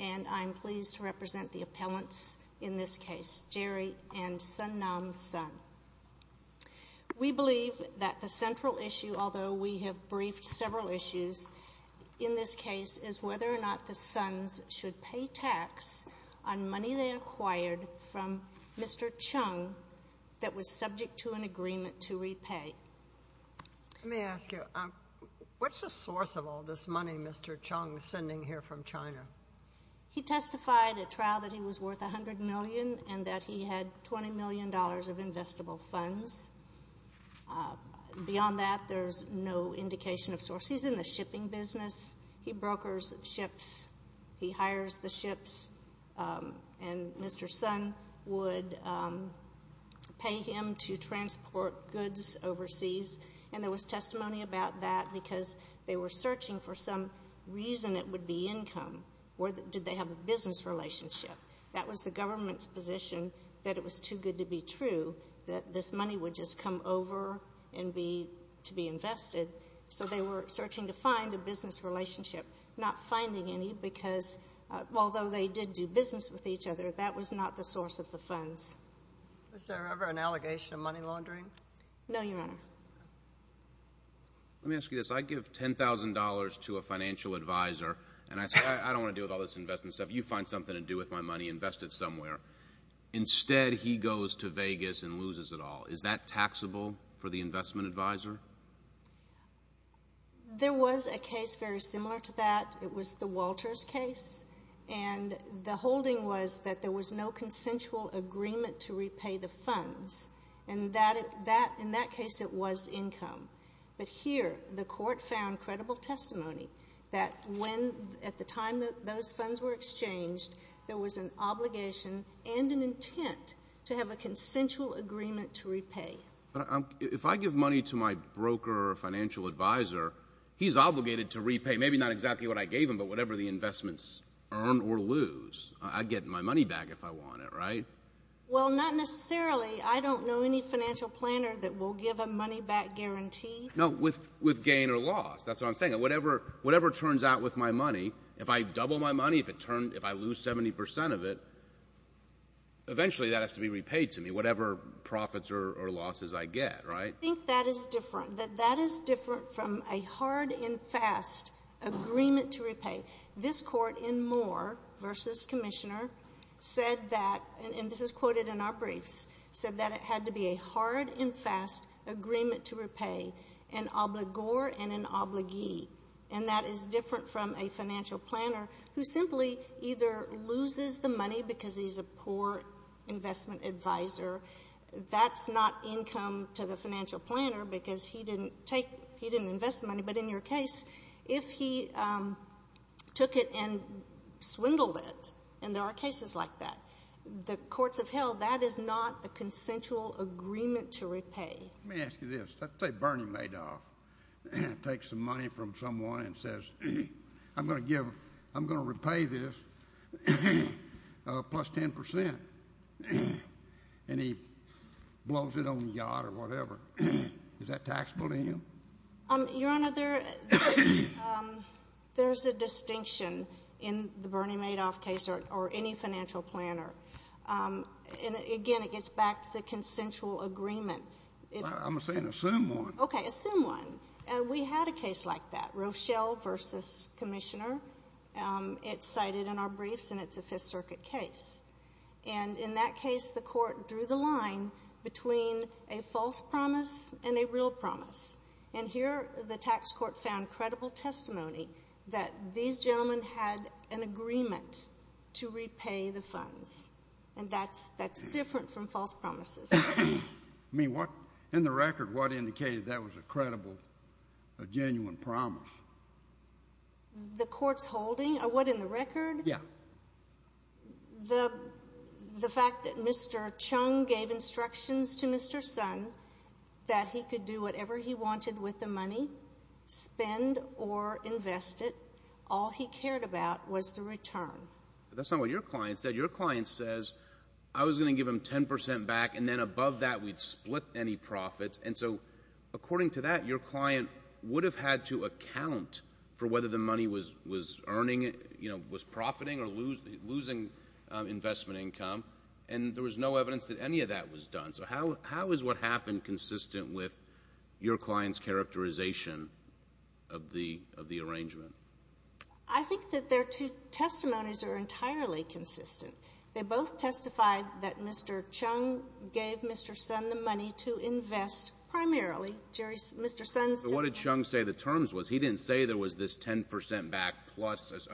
And I'm pleased to represent the appellants in this case, Jerry and Sun Nam Sun. We believe that the central issue, although we have briefed several issues in this case, is whether or not the Suns should pay tax on money they acquired from Mr. Chung that was subject to an agreement to repay. Let me ask you, what's the source of all this money Mr. Chung is sending here from China? He testified at trial that he was worth $100 million and that he had $20 million of investable funds. Beyond that, there's no indication of source. He's in the shipping business. He brokers ships. He hires the ships, and Mr. Sun would pay him to transport goods overseas. And there was testimony about that because they were searching for some reason it would be income or did they have a business relationship. That was the government's position that it was too good to be true, that this money would just come over to be invested. So they were searching to find a business relationship, not finding any because although they did do business with each other, that was not the source of the funds. Was there ever an allegation of money laundering? No, Your Honor. Let me ask you this. I give $10,000 to a financial advisor, and I say, I don't want to deal with all this investment stuff. You find something to do with my money, invest it somewhere. Instead, he goes to Vegas and loses it all. Is that taxable for the investment advisor? There was a case very similar to that. It was the Walters case, and the holding was that there was no consensual agreement to repay the funds, and in that case it was income. But here the court found credible testimony that when at the time those funds were exchanged, there was an obligation and an intent to have a consensual agreement to repay. But if I give money to my broker or financial advisor, he's obligated to repay, maybe not exactly what I gave him, but whatever the investments earn or lose. I get my money back if I want it, right? Well, not necessarily. I don't know any financial planner that will give a money-back guarantee. No, with gain or loss. That's what I'm saying. Whatever turns out with my money, if I double my money, if I lose 70 percent of it, eventually that has to be repaid to me, whatever profits or losses I get, right? I think that is different. That that is different from a hard and fast agreement to repay. This Court in Moore v. Commissioner said that, and this is quoted in our briefs, said that it had to be a hard and fast agreement to repay, an obligor and an obligee. And that is different from a financial planner who simply either loses the money because he's a poor investment advisor. That's not income to the financial planner because he didn't invest the money. But in your case, if he took it and swindled it, and there are cases like that, the courts have held that is not a consensual agreement to repay. Let me ask you this. Let's say Bernie Madoff takes the money from someone and says, I'm going to repay this plus 10 percent, and he blows it on the yacht or whatever. Is that taxable to him? Your Honor, there is a distinction in the Bernie Madoff case or any financial planner. And, again, it gets back to the consensual agreement. I'm saying assume one. Okay, assume one. We had a case like that, Rochelle v. Commissioner. It's cited in our briefs, and it's a Fifth Circuit case. And in that case, the court drew the line between a false promise and a real promise. And here the tax court found credible testimony that these gentlemen had an agreement to repay the funds. And that's different from false promises. I mean, in the record, what indicated that was a credible, a genuine promise? The court's holding? What, in the record? Yeah. The fact that Mr. Chung gave instructions to Mr. Son that he could do whatever he wanted with the money, spend or invest it, all he cared about was the return. That's not what your client said. I was going to give him 10 percent back, and then above that we'd split any profits. And so according to that, your client would have had to account for whether the money was earning, you know, was profiting or losing investment income. And there was no evidence that any of that was done. So how is what happened consistent with your client's characterization of the arrangement? I think that their two testimonies are entirely consistent. They both testified that Mr. Chung gave Mr. Son the money to invest primarily. Mr. Son's testimony — But what did Chung say the terms was? He didn't say there was this 10 percent back plus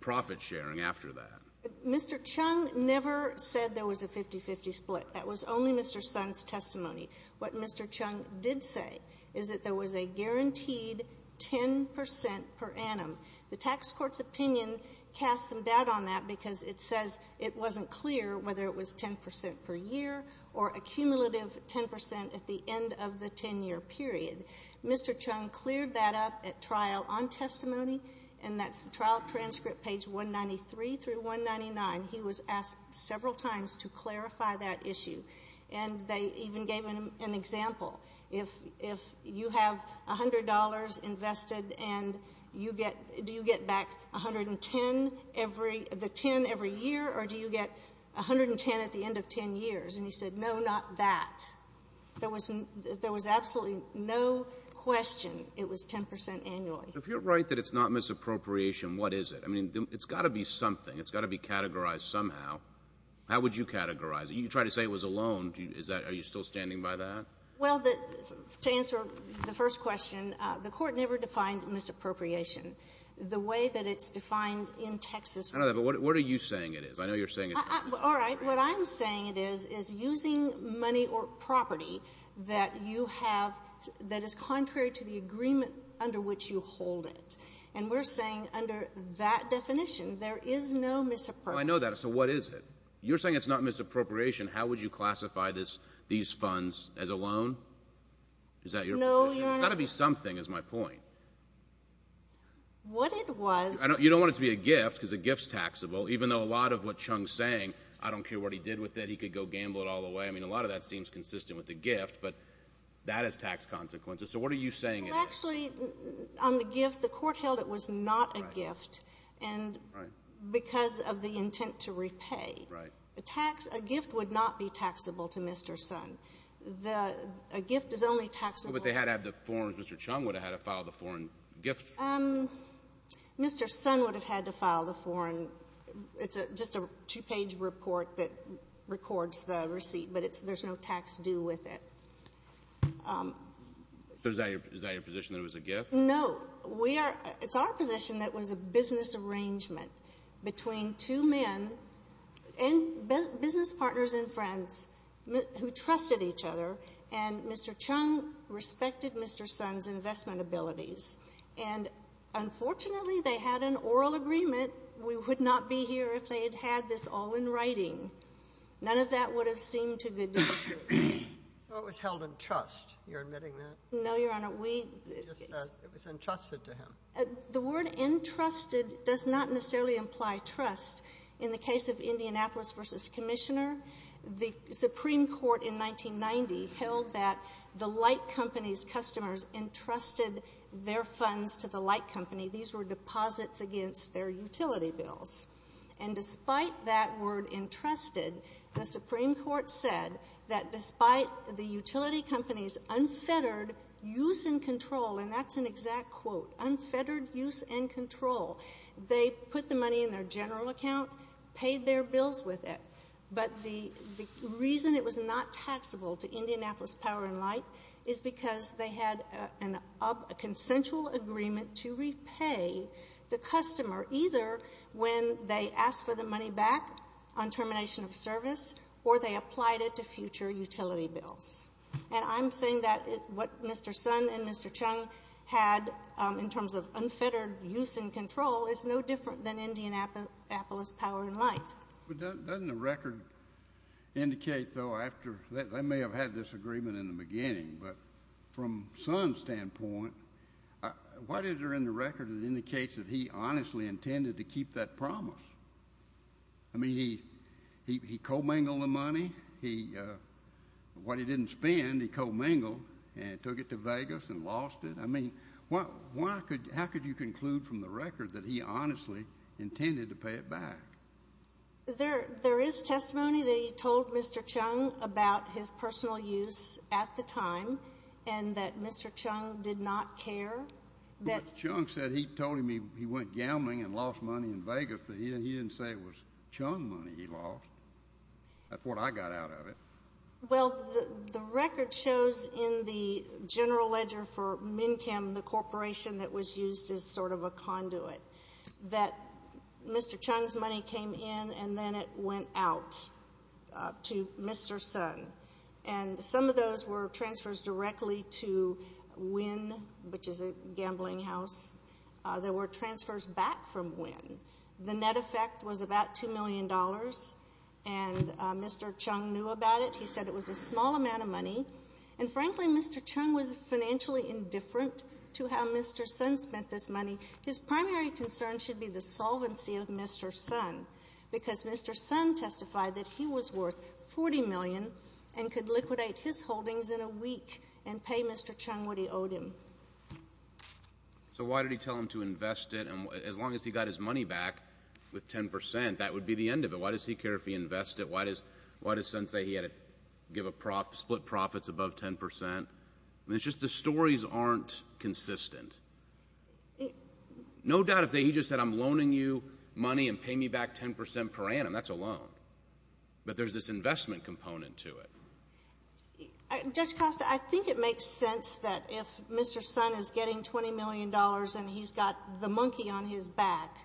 profit sharing after that. Mr. Chung never said there was a 50-50 split. That was only Mr. Son's testimony. What Mr. Chung did say is that there was a guaranteed 10 percent per annum. The tax court's opinion casts some doubt on that because it says it wasn't clear whether it was 10 percent per year or a cumulative 10 percent at the end of the 10-year period. Mr. Chung cleared that up at trial on testimony, and that's the trial transcript, page 193 through 199. He was asked several times to clarify that issue. And they even gave him an example. If you have $100 invested and you get — do you get back 110 every — the 10 every year, or do you get 110 at the end of 10 years? And he said, no, not that. There was absolutely no question it was 10 percent annually. If you're right that it's not misappropriation, what is it? I mean, it's got to be something. It's got to be categorized somehow. How would you categorize it? You tried to say it was a loan. Is that — are you still standing by that? Well, to answer the first question, the Court never defined misappropriation the way that it's defined in Texas. I know that, but what are you saying it is? I know you're saying it's not misappropriation. All right. What I'm saying it is, is using money or property that you have that is contrary to the agreement under which you hold it. And we're saying under that definition, there is no misappropriation. Well, I know that. So what is it? You're saying it's not misappropriation. How would you classify these funds as a loan? Is that your position? No, Your Honor. It's got to be something is my point. What it was — You don't want it to be a gift because a gift's taxable, even though a lot of what Chung's saying, I don't care what he did with it, he could go gamble it all away. I mean, a lot of that seems consistent with the gift, but that has tax consequences. So what are you saying it is? Well, actually, on the gift, the Court held it was not a gift. Right. Because of the intent to repay. Right. A tax — a gift would not be taxable to Mr. Sun. The — a gift is only taxable — Well, but they had to have the foreign — Mr. Chung would have had to file the foreign gift. Mr. Sun would have had to file the foreign — it's just a two-page report that records the receipt, but it's — there's no tax due with it. So is that your position, that it was a gift? No. We are — it's our position that it was a business arrangement between two men and business partners and friends who trusted each other, and Mr. Chung respected Mr. Sun's investment abilities. And unfortunately, they had an oral agreement. We would not be here if they had had this all in writing. None of that would have seemed to good to the truth. So it was held in trust, you're admitting that? No, Your Honor. We — He just said it was entrusted to him. The word entrusted does not necessarily imply trust. In the case of Indianapolis v. Commissioner, the Supreme Court in 1990 held that the light company's customers entrusted their funds to the light company. These were deposits against their utility bills. And despite that word entrusted, the Supreme Court said that despite the utility company's unfettered use and control, and that's an exact quote, unfettered use and control, they put the money in their general account, paid their bills with it. But the reason it was not taxable to Indianapolis Power & Light is because they had a consensual agreement to repay the customer either when they asked for the money back on termination of service or they applied it to future utility bills. And I'm saying that what Mr. Sun and Mr. Chung had in terms of unfettered use and control is no different than Indianapolis Power & Light. But doesn't the record indicate, though, after — they may have had this agreement in the beginning, but from Sun's standpoint, what is there in the record that indicates that he honestly intended to keep that promise? I mean, he co-mingled the money. What he didn't spend, he co-mingled and took it to Vegas and lost it. I mean, how could you conclude from the record that he honestly intended to pay it back? There is testimony that he told Mr. Chung about his personal use at the time and that Mr. Chung did not care. Mr. Chung said he told him he went gambling and lost money in Vegas, but he didn't say it was Chung money he lost. That's what I got out of it. Well, the record shows in the general ledger for MNCCM, the corporation that was used as sort of a conduit, that Mr. Chung's money came in and then it went out to Mr. Sun. And some of those were transfers directly to Wynn, which is a gambling house. There were transfers back from Wynn. The net effect was about $2 million, and Mr. Chung knew about it. He said it was a small amount of money. And, frankly, Mr. Chung was financially indifferent to how Mr. Sun spent this money. His primary concern should be the solvency of Mr. Sun because Mr. Sun testified that he was worth $40 million and could liquidate his holdings in a week and pay Mr. Chung what he owed him. So why did he tell him to invest it? And as long as he got his money back with 10 percent, that would be the end of it. Why does he care if he invests it? Why does Sun say he had to give a profit, split profits above 10 percent? I mean, it's just the stories aren't consistent. No doubt if he just said, I'm loaning you money and pay me back 10 percent per annum, that's a loan. But there's this investment component to it. Judge Costa, I think it makes sense that if Mr. Sun is getting $20 million and he's got the monkey on his back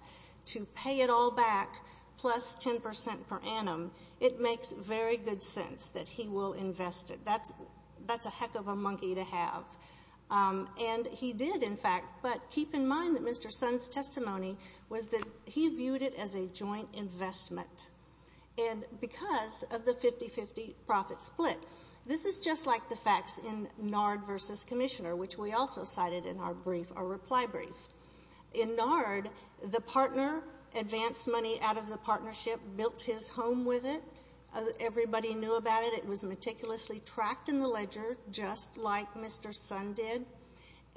to pay it all back plus 10 percent per annum, it makes very good sense that he will invest it. That's a heck of a monkey to have. And he did, in fact. But keep in mind that Mr. Sun's testimony was that he viewed it as a joint investment. And because of the 50-50 profit split, this is just like the facts in NARD versus Commissioner, which we also cited in our reply brief. In NARD, the partner advanced money out of the partnership, built his home with it. Everybody knew about it. It was meticulously tracked in the ledger, just like Mr. Sun did.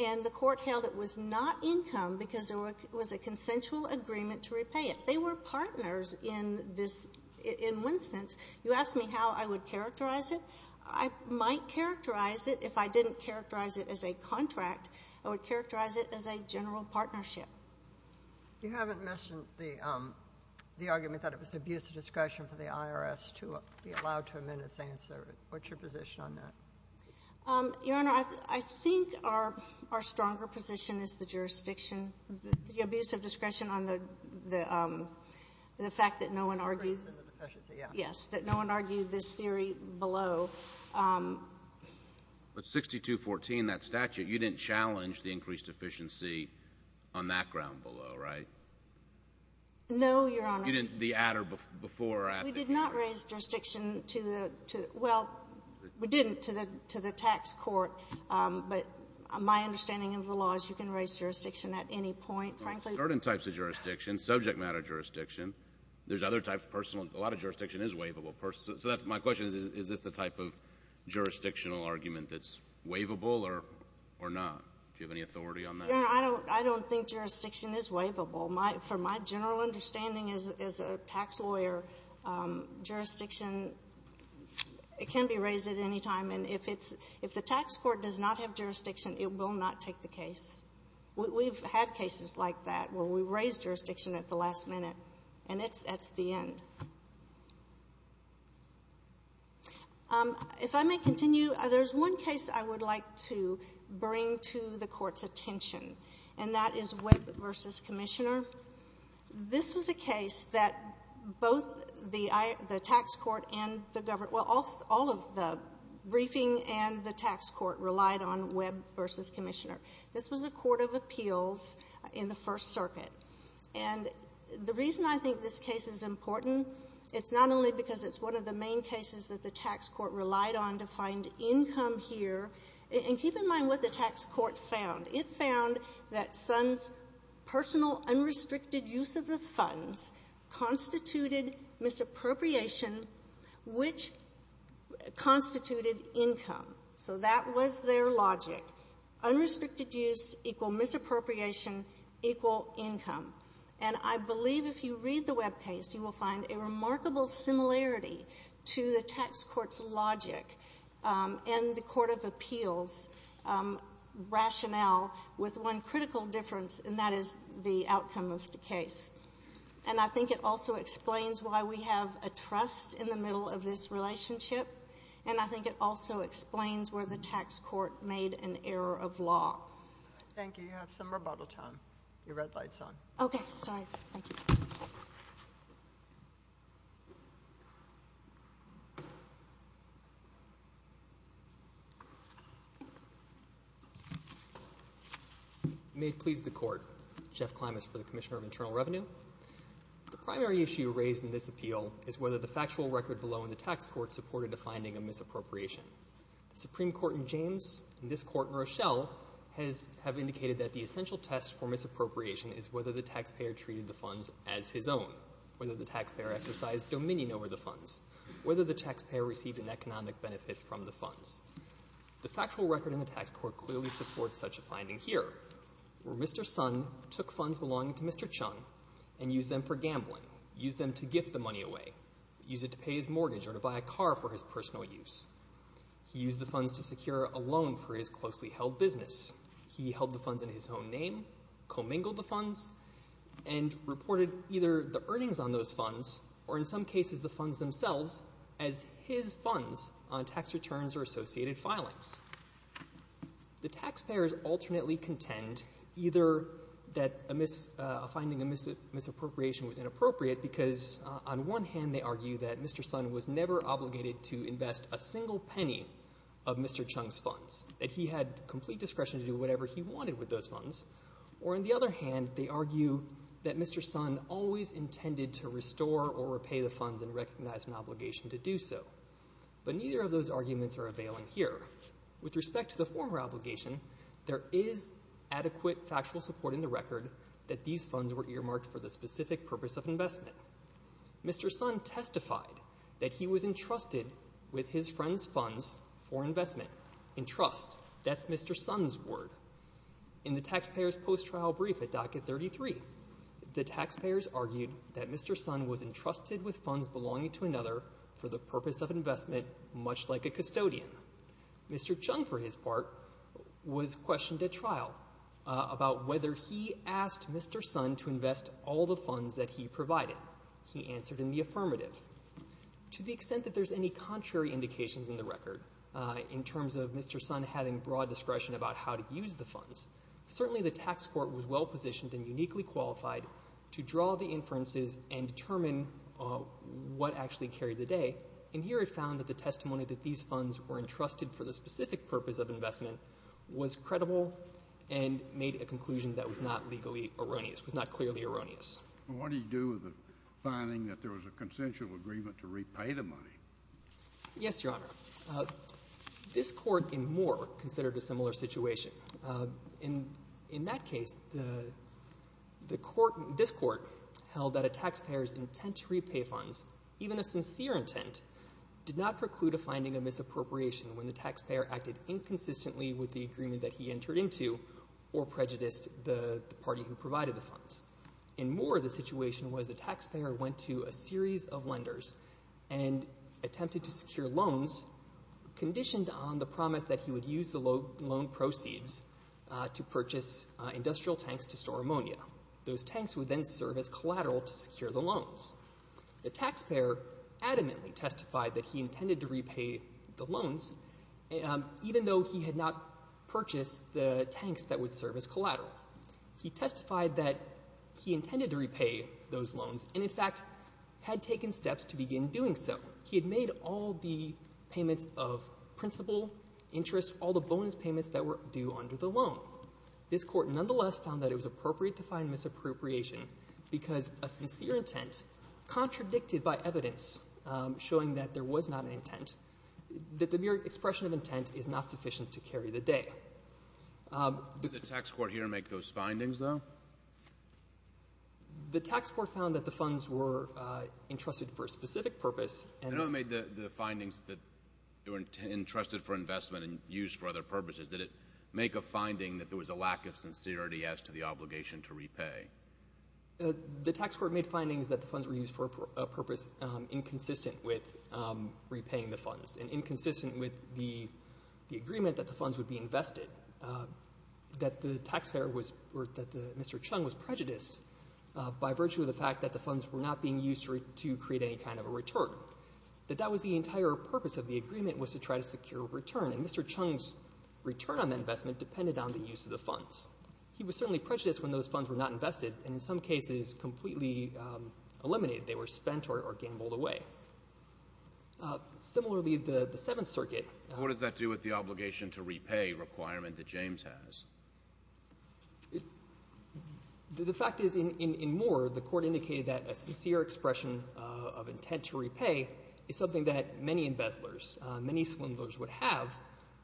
And the Court held it was not income because there was a consensual agreement to repay it. They were partners in this, in one sense. You asked me how I would characterize it. I might characterize it. If I didn't characterize it as a contract, I would characterize it as a general partnership. You haven't mentioned the argument that it was abuse of discretion for the IRS to be concerned. What's your position on that? Your Honor, I think our stronger position is the jurisdiction. The abuse of discretion on the fact that no one argued this theory below. But 6214, that statute, you didn't challenge the increased efficiency on that ground below, right? No, Your Honor. You didn't, the ad or before ad? We did not raise jurisdiction to the, well, we didn't, to the tax court. But my understanding of the law is you can raise jurisdiction at any point, frankly. Well, certain types of jurisdiction, subject matter jurisdiction. There's other types, personal. A lot of jurisdiction is waivable. So my question is, is this the type of jurisdictional argument that's waivable or not? Do you have any authority on that? Your Honor, I don't think jurisdiction is waivable. From my general understanding as a tax lawyer, jurisdiction can be raised at any time. And if it's, if the tax court does not have jurisdiction, it will not take the case. We've had cases like that where we've raised jurisdiction at the last minute, and that's the end. If I may continue, there's one case I would like to bring to the Court's attention, and that is Webb v. Commissioner. This was a case that both the tax court and the government, well, all of the briefing and the tax court relied on Webb v. Commissioner. This was a court of appeals in the First Circuit. And the reason I think this case is important, it's not only because it's one of the main cases that the tax court relied on to find income here. And keep in mind what the tax court found. It found that Sons' personal unrestricted use of the funds constituted misappropriation, which constituted income. So that was their logic. Unrestricted use equal misappropriation equal income. And I believe if you read the Webb case, you will find a remarkable similarity to the tax court's logic and the court of appeals rationale with one critical difference, and that is the outcome of the case. And I think it also explains why we have a trust in the middle of this relationship, and I think it also explains where the tax court made an error of law. Thank you. You have some rebuttal time. Your red light's on. Okay. Sorry. Thank you. May it please the court. Jeff Klimas for the Commissioner of Internal Revenue. The primary issue raised in this appeal is whether the factual record below in the tax court supported the finding of misappropriation. The Supreme Court in James and this court in Rochelle have indicated that the essential test for misappropriation is whether the taxpayer treated the funds as his own, whether the taxpayer exercised dominion over the funds, whether the taxpayer received an economic benefit from the funds. The factual record in the tax court clearly supports such a finding here, where Mr. Sun took funds belonging to Mr. Chung and used them for gambling, used them to gift the money away, used it to pay his mortgage or to buy a car for his personal use. He used the funds to secure a loan for his closely held business. He held the funds in his own name, commingled the funds, and reported either the earnings on those funds or, in some cases, the funds themselves as his funds on tax returns or associated filings. The taxpayers alternately contend either that a finding of misappropriation was inappropriate because, on one hand, they argue that Mr. Sun was never obligated to invest a single penny of Mr. Chung's funds, that he had complete discretion to do whatever he wanted with those funds, or, on the other hand, they argue that Mr. Sun always intended to restore or repay the funds and recognize an obligation to do so. But neither of those arguments are availing here. With respect to the former obligation, there is adequate factual support in the record that these funds were earmarked for the specific purpose of investment. Mr. Sun testified that he was entrusted with his friend's funds for investment. Entrust, that's Mr. Sun's word. In the taxpayers' post-trial brief at docket 33, the taxpayers argued that Mr. Sun was entrusted with funds belonging to another for the purpose of investment, much like a custodian. Mr. Chung, for his part, was questioned at trial about whether he asked Mr. Sun to invest all the funds that he provided. He answered in the affirmative. To the extent that there's any contrary indications in the record, in terms of Mr. Sun having broad discretion about how to use the funds, certainly the tax court was well positioned and uniquely qualified to draw the inferences and determine what actually carried the day. And here it found that the testimony that these funds were entrusted for the specific purpose of investment was credible and made a conclusion that was not legally erroneous, was not clearly erroneous. What do you do with the finding that there was a consensual agreement to repay the money? Yes, Your Honor. This court in Moore considered a similar situation. In that case, this court held that a taxpayer's intent to repay funds, even a sincere intent, did not preclude a finding of misappropriation when the taxpayer acted inconsistently with the agreement that he entered into or prejudiced the party who provided the funds. In Moore, the situation was the taxpayer went to a series of lenders and attempted to secure loans conditioned on the promise that he would use the loan proceeds to purchase industrial tanks to store ammonia. Those tanks would then serve as collateral to secure the loans. The taxpayer adamantly testified that he intended to repay the loans, even though he had not purchased the tanks that would serve as collateral. He testified that he intended to repay those loans and, in fact, had taken steps to begin doing so. He had made all the payments of principal, interest, all the bonus payments that were due under the loan. This court nonetheless found that it was appropriate to find misappropriation because a sincere intent contradicted by evidence showing that there was not an intent, that the mere expression of intent is not sufficient to carry the day. Did the tax court here make those findings, though? The tax court found that the funds were entrusted for a specific purpose. I know they made the findings that they were entrusted for investment and used for other purposes. Did it make a finding that there was a lack of sincerity as to the obligation to repay? The tax court made findings that the funds were used for a purpose inconsistent with repaying the funds and inconsistent with the agreement that the funds would be invested, that Mr. Chung was prejudiced by virtue of the fact that the funds were not being used to create any kind of a return, that that was the entire purpose of the agreement was to try to secure a return, and Mr. Chung's return on that investment depended on the use of the funds. He was certainly prejudiced when those funds were not invested and, in some cases, completely eliminated. They were spent or gambled away. Similarly, the Seventh Circuit — What does that do with the obligation to repay requirement that James has? The fact is, in Moore, the Court indicated that a sincere expression of intent to repay is something that many embezzlers, many swindlers would have,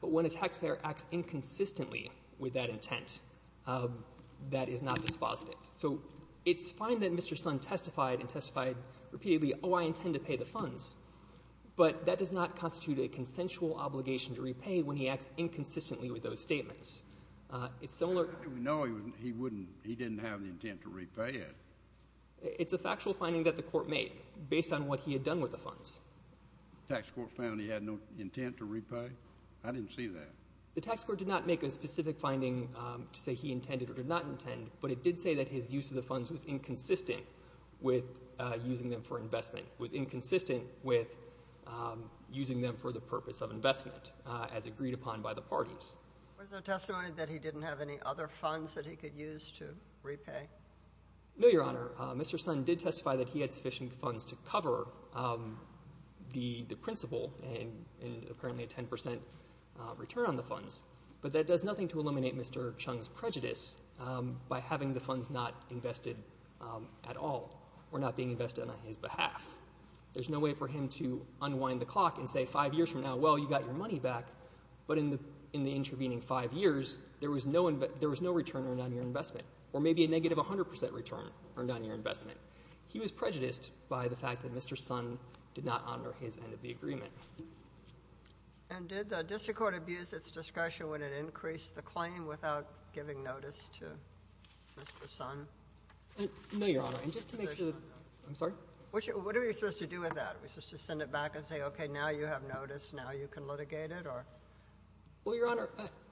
but when a taxpayer acts inconsistently with that intent, that is not dispositive. So it's fine that Mr. Sun testified and testified repeatedly, oh, I intend to pay the funds, but that does not constitute a consensual obligation to repay when he acts inconsistently with those statements. It's similar— No, he didn't have the intent to repay it. It's a factual finding that the Court made based on what he had done with the funds. The tax court found he had no intent to repay? I didn't see that. The tax court did not make a specific finding to say he intended or did not intend, but it did say that his use of the funds was inconsistent with using them for investment, was inconsistent with using them for the purpose of investment, as agreed upon by the parties. Was there testimony that he didn't have any other funds that he could use to repay? No, Your Honor. Mr. Sun did testify that he had sufficient funds to cover the principle and apparently a 10 percent return on the funds, but that does nothing to eliminate Mr. Chung's prejudice by having the funds not invested at all or not being invested on his behalf. There's no way for him to unwind the clock and say 5 years from now, well, you got your money back, but in the intervening 5 years, there was no return earned on your investment or maybe a negative 100 percent return earned on your investment. He was prejudiced by the fact that Mr. Sun did not honor his end of the agreement. And did the district court abuse its discretion when it increased the claim without giving notice to Mr. Sun? No, Your Honor. And just to make sure, I'm sorry? What are we supposed to do with that? Are we supposed to send it back and say, okay, now you have notice, now you can litigate it? Well, Your Honor,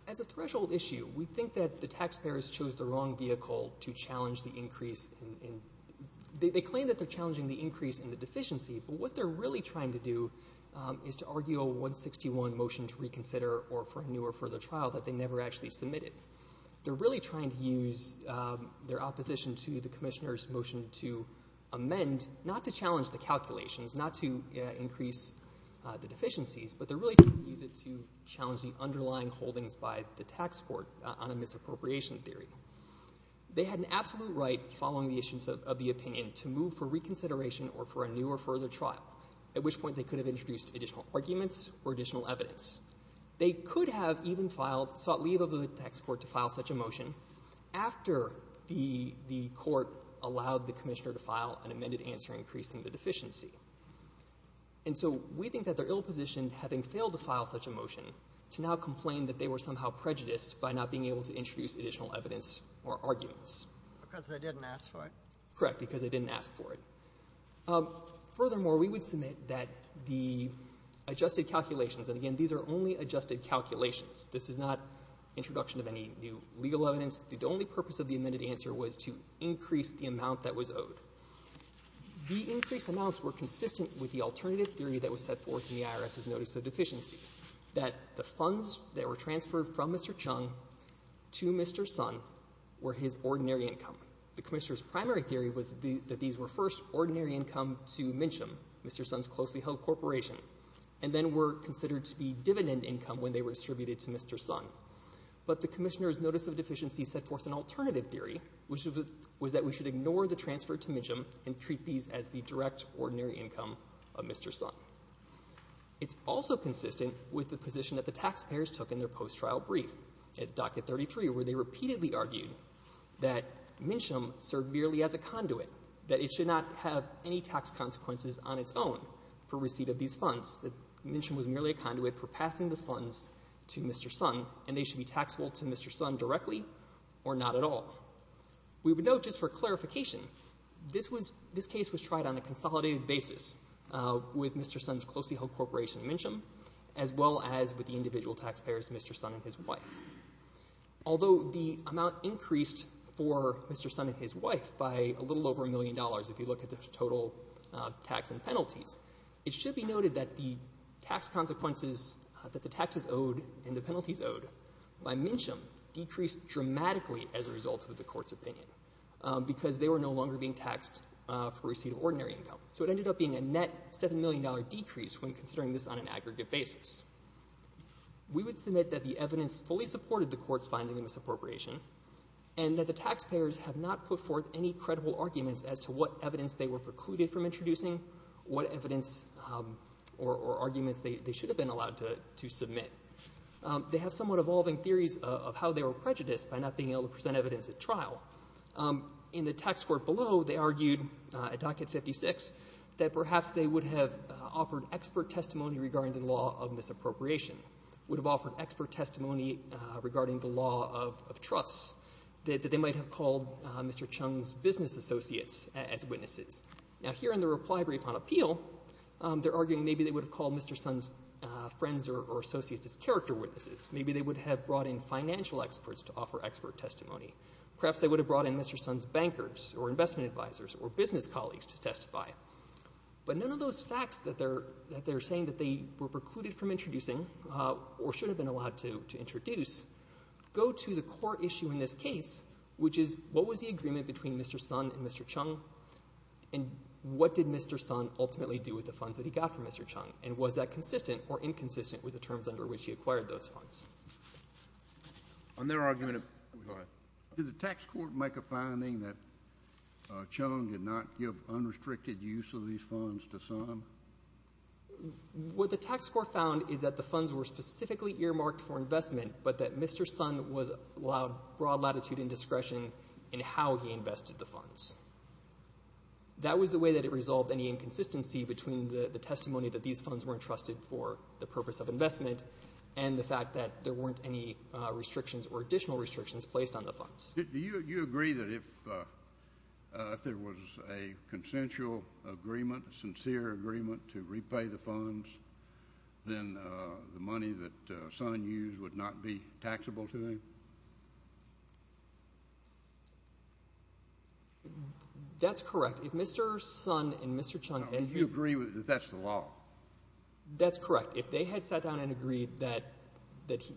as a threshold issue, we think that the taxpayers chose the wrong vehicle to challenge the increase. They claim that they're challenging the increase in the deficiency, but what they're really trying to do is to argue a 161 motion to reconsider or for a newer further trial that they never actually submitted. They're really trying to use their opposition to the commissioner's motion to amend, not to challenge the calculations, not to increase the deficiencies, but they're really trying to use it to challenge the underlying holdings by the tax court on a misappropriation theory. They had an absolute right, following the issues of the opinion, to move for reconsideration or for a newer further trial, at which point they could have introduced additional arguments or additional evidence. They could have even sought leave of the tax court to file such a motion after the court allowed the commissioner to file an amended answer increasing the deficiency. And so we think that they're ill-positioned, having failed to file such a motion, to now complain that they were somehow prejudiced by not being able to introduce additional evidence or arguments. Because they didn't ask for it? Correct. Because they didn't ask for it. Furthermore, we would submit that the adjusted calculations, and again, these are only adjusted calculations. This is not introduction of any new legal evidence. The only purpose of the amended answer was to increase the amount that was owed. The increased amounts were consistent with the alternative theory that was set forth in the IRS's notice of deficiency, that the funds that were transferred from Mr. Chung to Mr. Sun were his ordinary income. The commissioner's primary theory was that these were first ordinary income to MNCHM, Mr. Sun's closely held corporation, and then were considered to be dividend income when they were distributed to Mr. Sun. But the commissioner's notice of deficiency set forth an alternative theory, which was that we should ignore the transfer to MNCHM and treat these as the direct ordinary income of Mr. Sun. It's also consistent with the position that the taxpayers took in their post-trial brief. At docket 33, where they repeatedly argued that MNCHM served merely as a conduit, that it should not have any tax consequences on its own for receipt of these funds, that MNCHM was merely a conduit for passing the funds to Mr. Sun and they should be taxable to Mr. Sun directly or not at all. We would note, just for clarification, this case was tried on a consolidated basis with Mr. Sun's closely held corporation, MNCHM, as well as with the individual taxpayers, Mr. Sun and his wife. Although the amount increased for Mr. Sun and his wife by a little over a million dollars, if you look at the total tax and penalties, it should be noted that the tax consequences that the taxes owed and the penalties owed by MNCHM decreased dramatically as a result of the court's opinion because they were no longer being taxed for receipt of ordinary income. So it ended up being a net $7 million decrease when considering this on an aggregate basis. We would submit that the evidence fully supported the court's finding of misappropriation and that the taxpayers have not put forth any credible arguments as to what evidence they were precluded from introducing, what evidence or arguments they should have been allowed to submit. They have somewhat evolving theories of how they were prejudiced by not being able to present evidence at trial. In the tax court below, they argued at Docket 56 that perhaps they would have offered expert testimony regarding the law of misappropriation, would have offered expert testimony regarding the law of trusts, that they might have called Mr. Chung's business associates as witnesses. Now, here in the reply brief on appeal, they're arguing maybe they would have called Mr. Sun's friends or associates as character witnesses. Maybe they would have brought in financial experts to offer expert testimony. Perhaps they would have brought in Mr. Sun's bankers or investment advisors or business colleagues to testify. But none of those facts that they're saying that they were precluded from introducing or should have been allowed to introduce go to the core issue in this case, which is what was the agreement between Mr. Sun and Mr. Chung and what did Mr. Sun ultimately do with the funds that he got from Mr. Chung, and was that consistent or inconsistent with the terms under which he acquired those funds. On their argument, did the tax court make a finding that Chung did not give unrestricted use of these funds to Sun? What the tax court found is that the funds were specifically earmarked for investment, but that Mr. Sun was allowed broad latitude and discretion in how he invested the funds. That was the way that it resolved any inconsistency between the testimony and the fact that there weren't any restrictions or additional restrictions placed on the funds. Do you agree that if there was a consensual agreement, a sincere agreement to repay the funds, then the money that Sun used would not be taxable to him? That's correct. If Mr. Sun and Mr. Chung had— Do you agree that that's the law? That's correct. If they had sat down and agreed that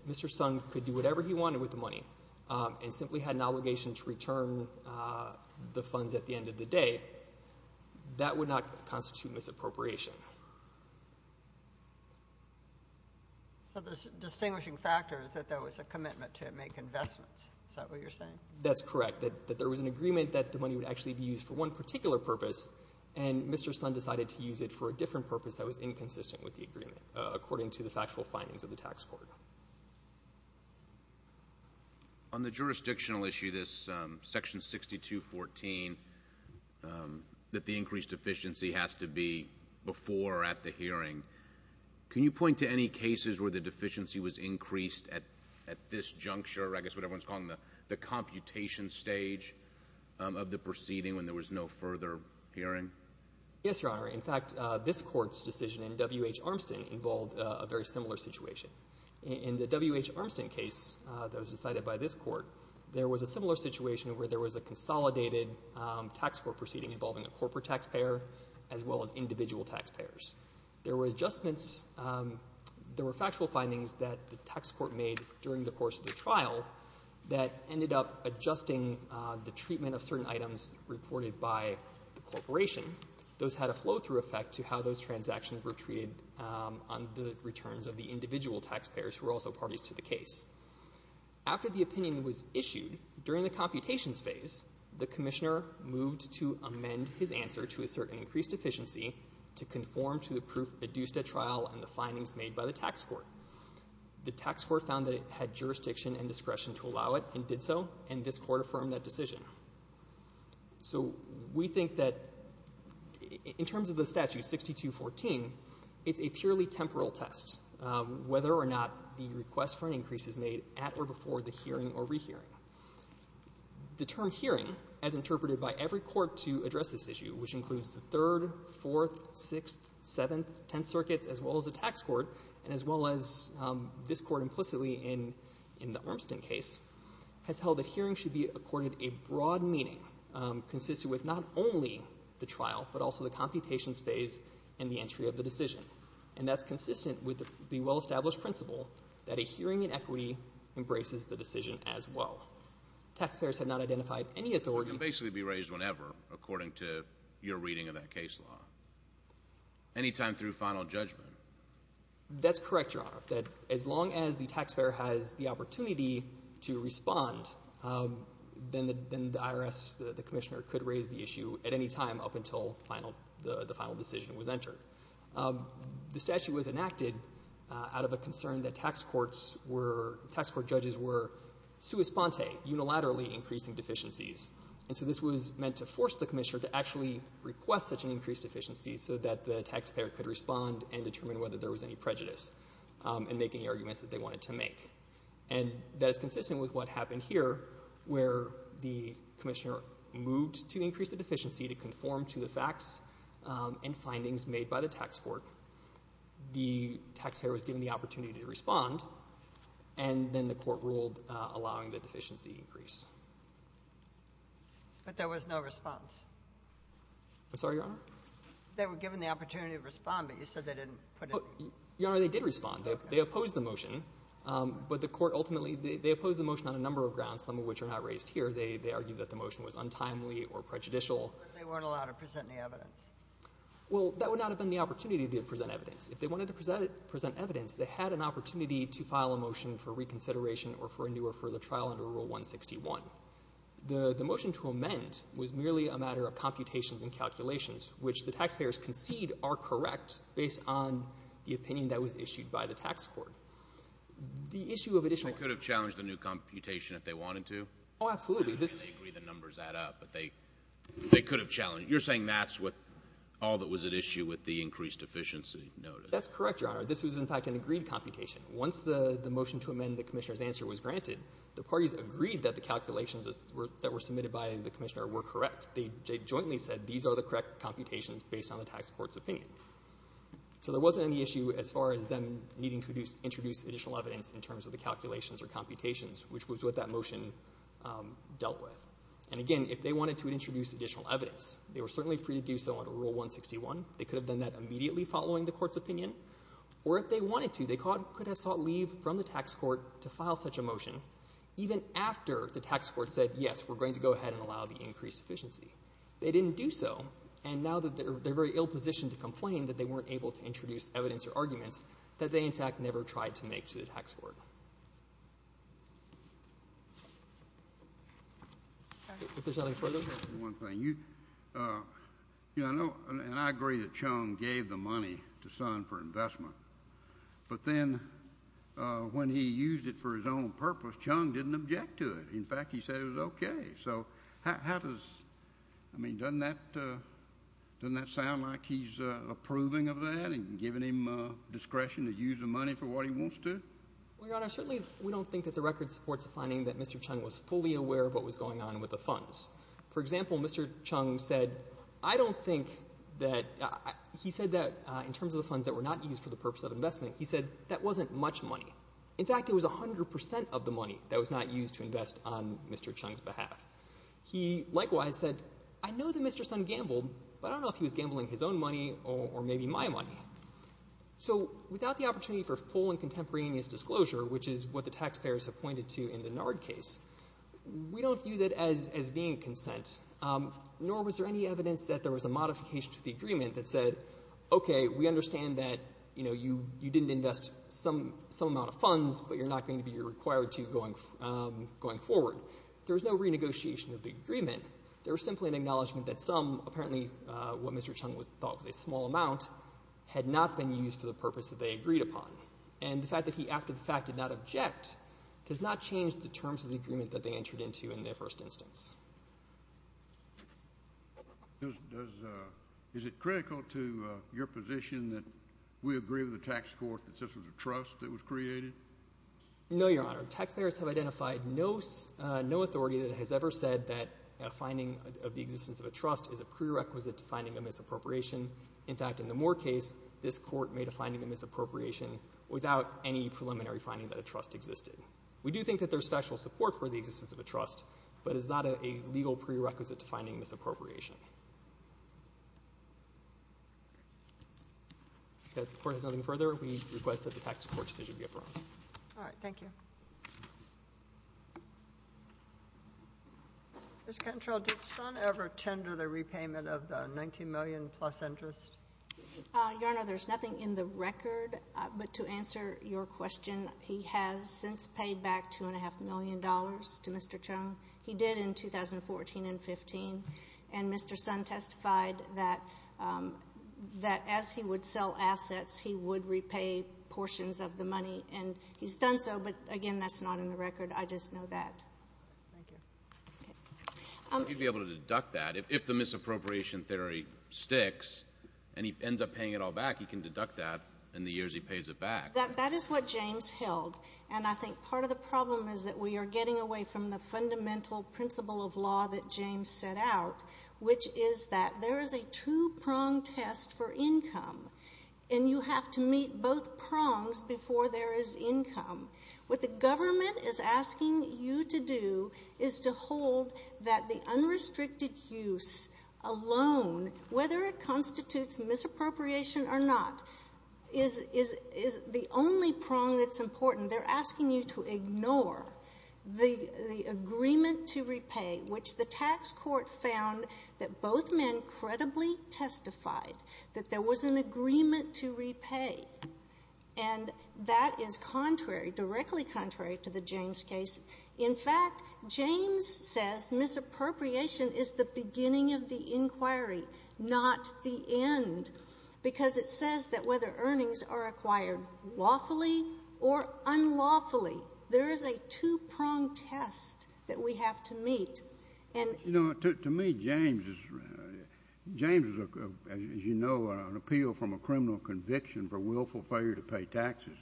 Mr. Sun could do whatever he wanted with the money and simply had an obligation to return the funds at the end of the day, that would not constitute misappropriation. So the distinguishing factor is that there was a commitment to make investments. Is that what you're saying? That's correct, that there was an agreement that the money would actually be used for one particular purpose, and Mr. Sun decided to use it for a different purpose that was inconsistent with the agreement, according to the factual findings of the tax court. On the jurisdictional issue, this Section 6214, that the increased deficiency has to be before or at the hearing, can you point to any cases where the deficiency was increased at this juncture, or I guess what everyone's calling the computation stage of the proceeding when there was no further hearing? Yes, Your Honor. In fact, this Court's decision in W.H. Armstead involved a very similar situation. In the W.H. Armstead case that was decided by this Court, there was a similar situation where there was a consolidated tax court proceeding involving a corporate taxpayer as well as individual taxpayers. There were adjustments, there were factual findings that the tax court made during the course of the trial that ended up adjusting the treatment of certain items reported by the corporation. Those had a flow-through effect to how those transactions were treated on the returns of the individual taxpayers who were also parties to the case. After the opinion was issued, during the computations phase, the commissioner moved to amend his answer to assert an increased deficiency to conform to the proof produced at trial and the findings made by the tax court. The tax court found that it had jurisdiction and discretion to allow it and did so, and this Court affirmed that decision. So we think that in terms of the Statute 6214, it's a purely temporal test, whether or not the request for an increase is made at or before the hearing or rehearing. The term hearing, as interpreted by every court to address this issue, which includes the Third, Fourth, Sixth, Seventh, Tenth Circuits as well as the tax court and as well as this Court implicitly in the Ormston case, has held that hearing should be accorded a broad meaning consisting with not only the trial but also the computations phase and the entry of the decision. And that's consistent with the well-established principle that a hearing in equity embraces the decision as well. Taxpayers have not identified any authority. It can basically be raised whenever, according to your reading of that case law, any time through final judgment. That's correct, Your Honor, that as long as the taxpayer has the opportunity to respond, then the IRS, the commissioner, could raise the issue at any time up until the final decision was entered. The statute was enacted out of a concern that tax courts were — tax court judges were sua sponte, unilaterally increasing deficiencies. And so this was meant to force the commissioner to actually request such an increased deficiency so that the taxpayer could respond and determine whether there was any prejudice and make any arguments that they wanted to make. And that is consistent with what happened here, where the commissioner moved to increase the deficiency to conform to the facts and findings made by the tax court. The taxpayer was given the opportunity to respond, and then the court ruled allowing the deficiency to increase. But there was no response. I'm sorry, Your Honor? They were given the opportunity to respond, but you said they didn't put any — Your Honor, they did respond. They opposed the motion, but the court ultimately — they opposed the motion on a number of grounds, some of which are not raised here. They argued that the motion was untimely or prejudicial. But they weren't allowed to present any evidence. Well, that would not have been the opportunity to present evidence. If they wanted to present evidence, they had an opportunity to file a motion for reconsideration or for a new or further trial under Rule 161. The motion to amend was merely a matter of computations and calculations, which the taxpayers concede are correct based on the opinion that was issued by the tax court. The issue of additional — They could have challenged the new computation if they wanted to. Oh, absolutely. They agree the numbers add up, but they could have challenged — you're saying that's what — all that was at issue with the increased deficiency notice. That's correct, Your Honor. This was, in fact, an agreed computation. Once the motion to amend the commissioner's answer was granted, the parties agreed that the calculations that were submitted by the commissioner were correct. They jointly said these are the correct computations based on the tax court's opinion. So there wasn't any issue as far as them needing to introduce additional evidence in terms of the calculations or computations, which was what that motion dealt with. And, again, if they wanted to introduce additional evidence, they were certainly free to do so under Rule 161. They could have done that immediately following the court's opinion. Or if they wanted to, they could have sought leave from the tax court to file such a motion even after the tax court said, yes, we're going to go ahead and allow the increased deficiency. They didn't do so, and now they're in a very ill position to complain that they weren't able to introduce evidence or arguments that they, in fact, never tried to make to the tax court. If there's nothing further. One thing. You know, and I agree that Chung gave the money to Sun for investment, but then when he used it for his own purpose, Chung didn't object to it. In fact, he said it was okay. So how does—I mean, doesn't that sound like he's approving of that and giving him discretion to use the money for what he wants to? Well, Your Honor, certainly we don't think that the record supports the finding that Mr. Chung was fully aware of what was going on with the funds. For example, Mr. Chung said, I don't think that— he said that in terms of the funds that were not used for the purpose of investment, he said that wasn't much money. In fact, it was 100% of the money that was not used to invest on Mr. Chung's behalf. He likewise said, I know that Mr. Sun gambled, but I don't know if he was gambling his own money or maybe my money. So without the opportunity for full and contemporaneous disclosure, which is what the taxpayers have pointed to in the NARD case, we don't view that as being consent, nor was there any evidence that there was a modification to the agreement that said, okay, we understand that, you know, you didn't invest some amount of funds, but you're not going to be required to going forward. There was no renegotiation of the agreement. There was simply an acknowledgment that some, apparently what Mr. Chung thought was a small amount, had not been used for the purpose that they agreed upon. And the fact that he after the fact did not object does not change the terms of the agreement that they entered into in their first instance. Is it critical to your position that we agree with the tax court that this was a trust that was created? No, Your Honor. Taxpayers have identified no authority that has ever said that a finding of the existence of a trust is a prerequisite to finding a misappropriation. In fact, in the Moore case, this court made a finding of misappropriation without any preliminary finding that a trust existed. We do think that there's special support for the existence of a trust, but it's not a legal prerequisite to finding misappropriation. If the court has nothing further, we request that the tax court decision be affirmed. All right. Thank you. Ms. Cantrell, did Son ever tender the repayment of the $19 million plus interest? Your Honor, there's nothing in the record, but to answer your question, he has since paid back $2.5 million to Mr. Chung. He did in 2014 and 2015. And Mr. Son testified that as he would sell assets, he would repay portions of the money. And he's done so, but, again, that's not in the record. I just know that. Thank you. You'd be able to deduct that if the misappropriation theory sticks and he ends up paying it all back, he can deduct that in the years he pays it back. That is what James held. And I think part of the problem is that we are getting away from the fundamental principle of law that James set out, which is that there is a two-prong test for income, and you have to meet both prongs before there is income. What the government is asking you to do is to hold that the unrestricted use alone, whether it constitutes misappropriation or not, is the only prong that's important. They're asking you to ignore the agreement to repay, which the tax court found that both men credibly testified that there was an agreement to repay. And that is contrary, directly contrary, to the James case. In fact, James says misappropriation is the beginning of the inquiry, not the end, because it says that whether earnings are acquired lawfully or unlawfully, there is a two-prong test that we have to meet. You know, to me, James is, as you know, an appeal from a criminal conviction for willful failure to pay taxes.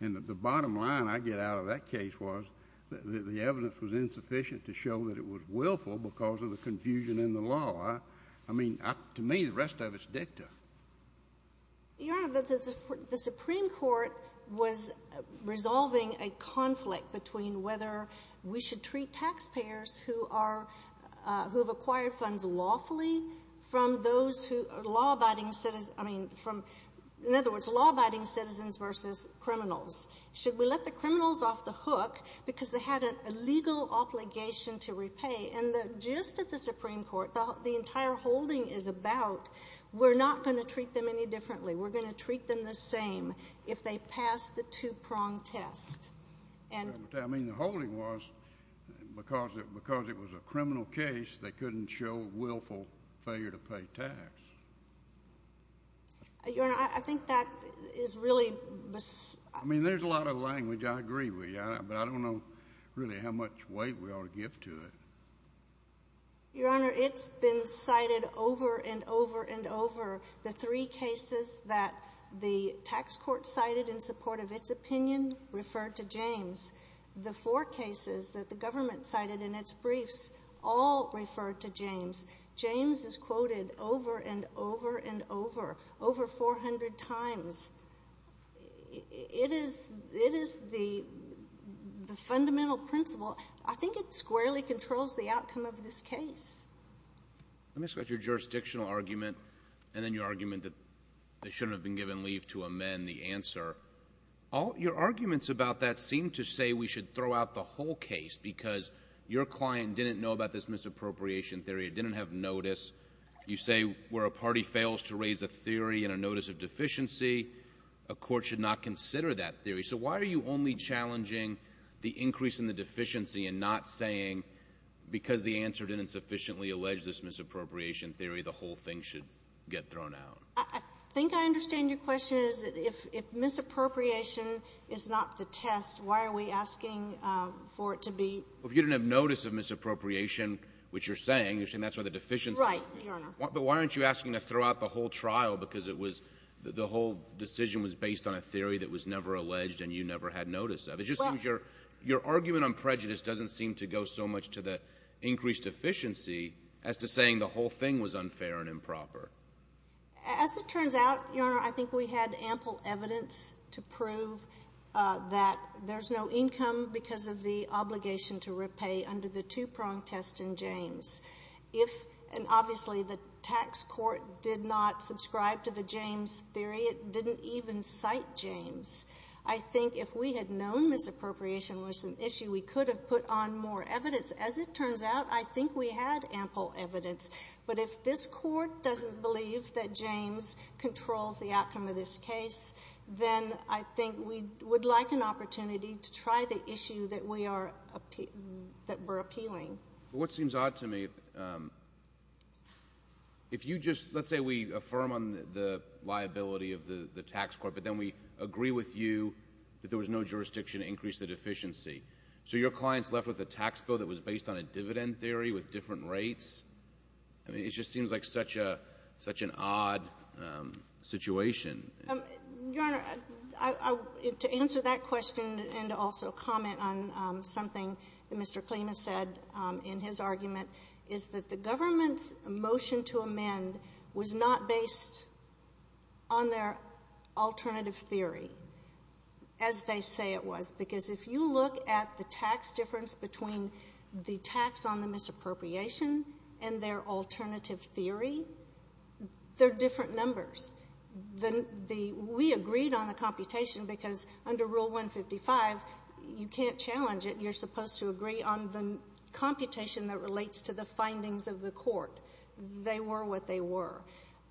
And the bottom line I get out of that case was that the evidence was insufficient to show that it was willful because of the confusion in the law. I mean, to me, the rest of it's dicta. Your Honor, the Supreme Court was resolving a conflict between whether we should treat taxpayers who have acquired funds lawfully from those who are law-abiding citizens, I mean, from, in other words, law-abiding citizens versus criminals. Should we let the criminals off the hook because they had a legal obligation to repay? And just as the Supreme Court, the entire holding is about we're not going to treat them any differently. We're going to treat them the same if they pass the two-prong test. I mean, the holding was because it was a criminal case, they couldn't show willful failure to pay tax. Your Honor, I think that is really — I mean, there's a lot of language. I agree with you, but I don't know really how much weight we ought to give to it. Your Honor, it's been cited over and over and over. The three cases that the tax court cited in support of its opinion referred to James. The four cases that the government cited in its briefs all referred to James. James is quoted over and over and over, over 400 times. It is the fundamental principle. I think it squarely controls the outcome of this case. Let me discuss your jurisdictional argument and then your argument that they shouldn't have been given leave to amend the answer. Your arguments about that seem to say we should throw out the whole case because your client didn't know about this misappropriation theory. It didn't have notice. You say where a party fails to raise a theory and a notice of deficiency, a court should not consider that theory. So why are you only challenging the increase in the deficiency and not saying, because the answer didn't sufficiently allege this misappropriation theory, the whole thing should get thrown out? I think I understand your question is if misappropriation is not the test, why are we asking for it to be? Well, if you didn't have notice of misappropriation, which you're saying, you're saying that's where the deficiency is. Right, Your Honor. But why aren't you asking to throw out the whole trial because it was the whole decision was based on a theory that was never alleged and you never had notice of? It just seems your argument on prejudice doesn't seem to go so much to the increased deficiency as to saying the whole thing was unfair and improper. As it turns out, Your Honor, I think we had ample evidence to prove that there's no income because of the obligation to repay under the two-prong test in James. If and obviously the tax court did not subscribe to the James theory, it didn't even cite James. I think if we had known misappropriation was an issue, we could have put on more evidence. As it turns out, I think we had ample evidence. But if this court doesn't believe that James controls the outcome of this case, then I think we would like an opportunity to try the issue that we are appealing. What seems odd to me, if you just let's say we affirm on the liability of the tax court, but then we agree with you that there was no jurisdiction to increase the deficiency. So your client's left with a tax bill that was based on a dividend theory with different rates? I mean, it just seems like such an odd situation. Your Honor, to answer that question and also comment on something that Mr. Klimas said in his argument, is that the government's motion to amend was not based on their alternative theory as they say it was. Because if you look at the tax difference between the tax on the misappropriation and their alternative theory, they're different numbers. We agreed on the computation because under Rule 155, you can't challenge it. You're supposed to agree on the computation that relates to the findings of the court. They were what they were.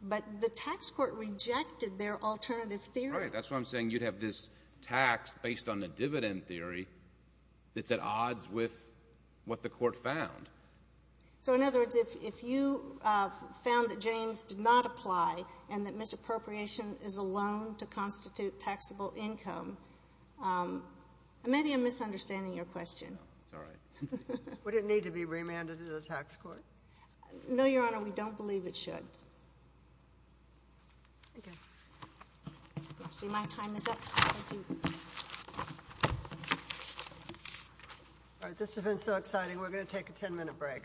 But the tax court rejected their alternative theory. All right. That's why I'm saying you'd have this tax based on the dividend theory that's at odds with what the court found. So in other words, if you found that James did not apply and that misappropriation is a loan to constitute taxable income, maybe I'm misunderstanding your question. It's all right. Would it need to be remanded to the tax court? No, Your Honor. We don't believe it should. Okay. Let's see. My time is up. Thank you. All right. This has been so exciting. We're going to take a ten minute break.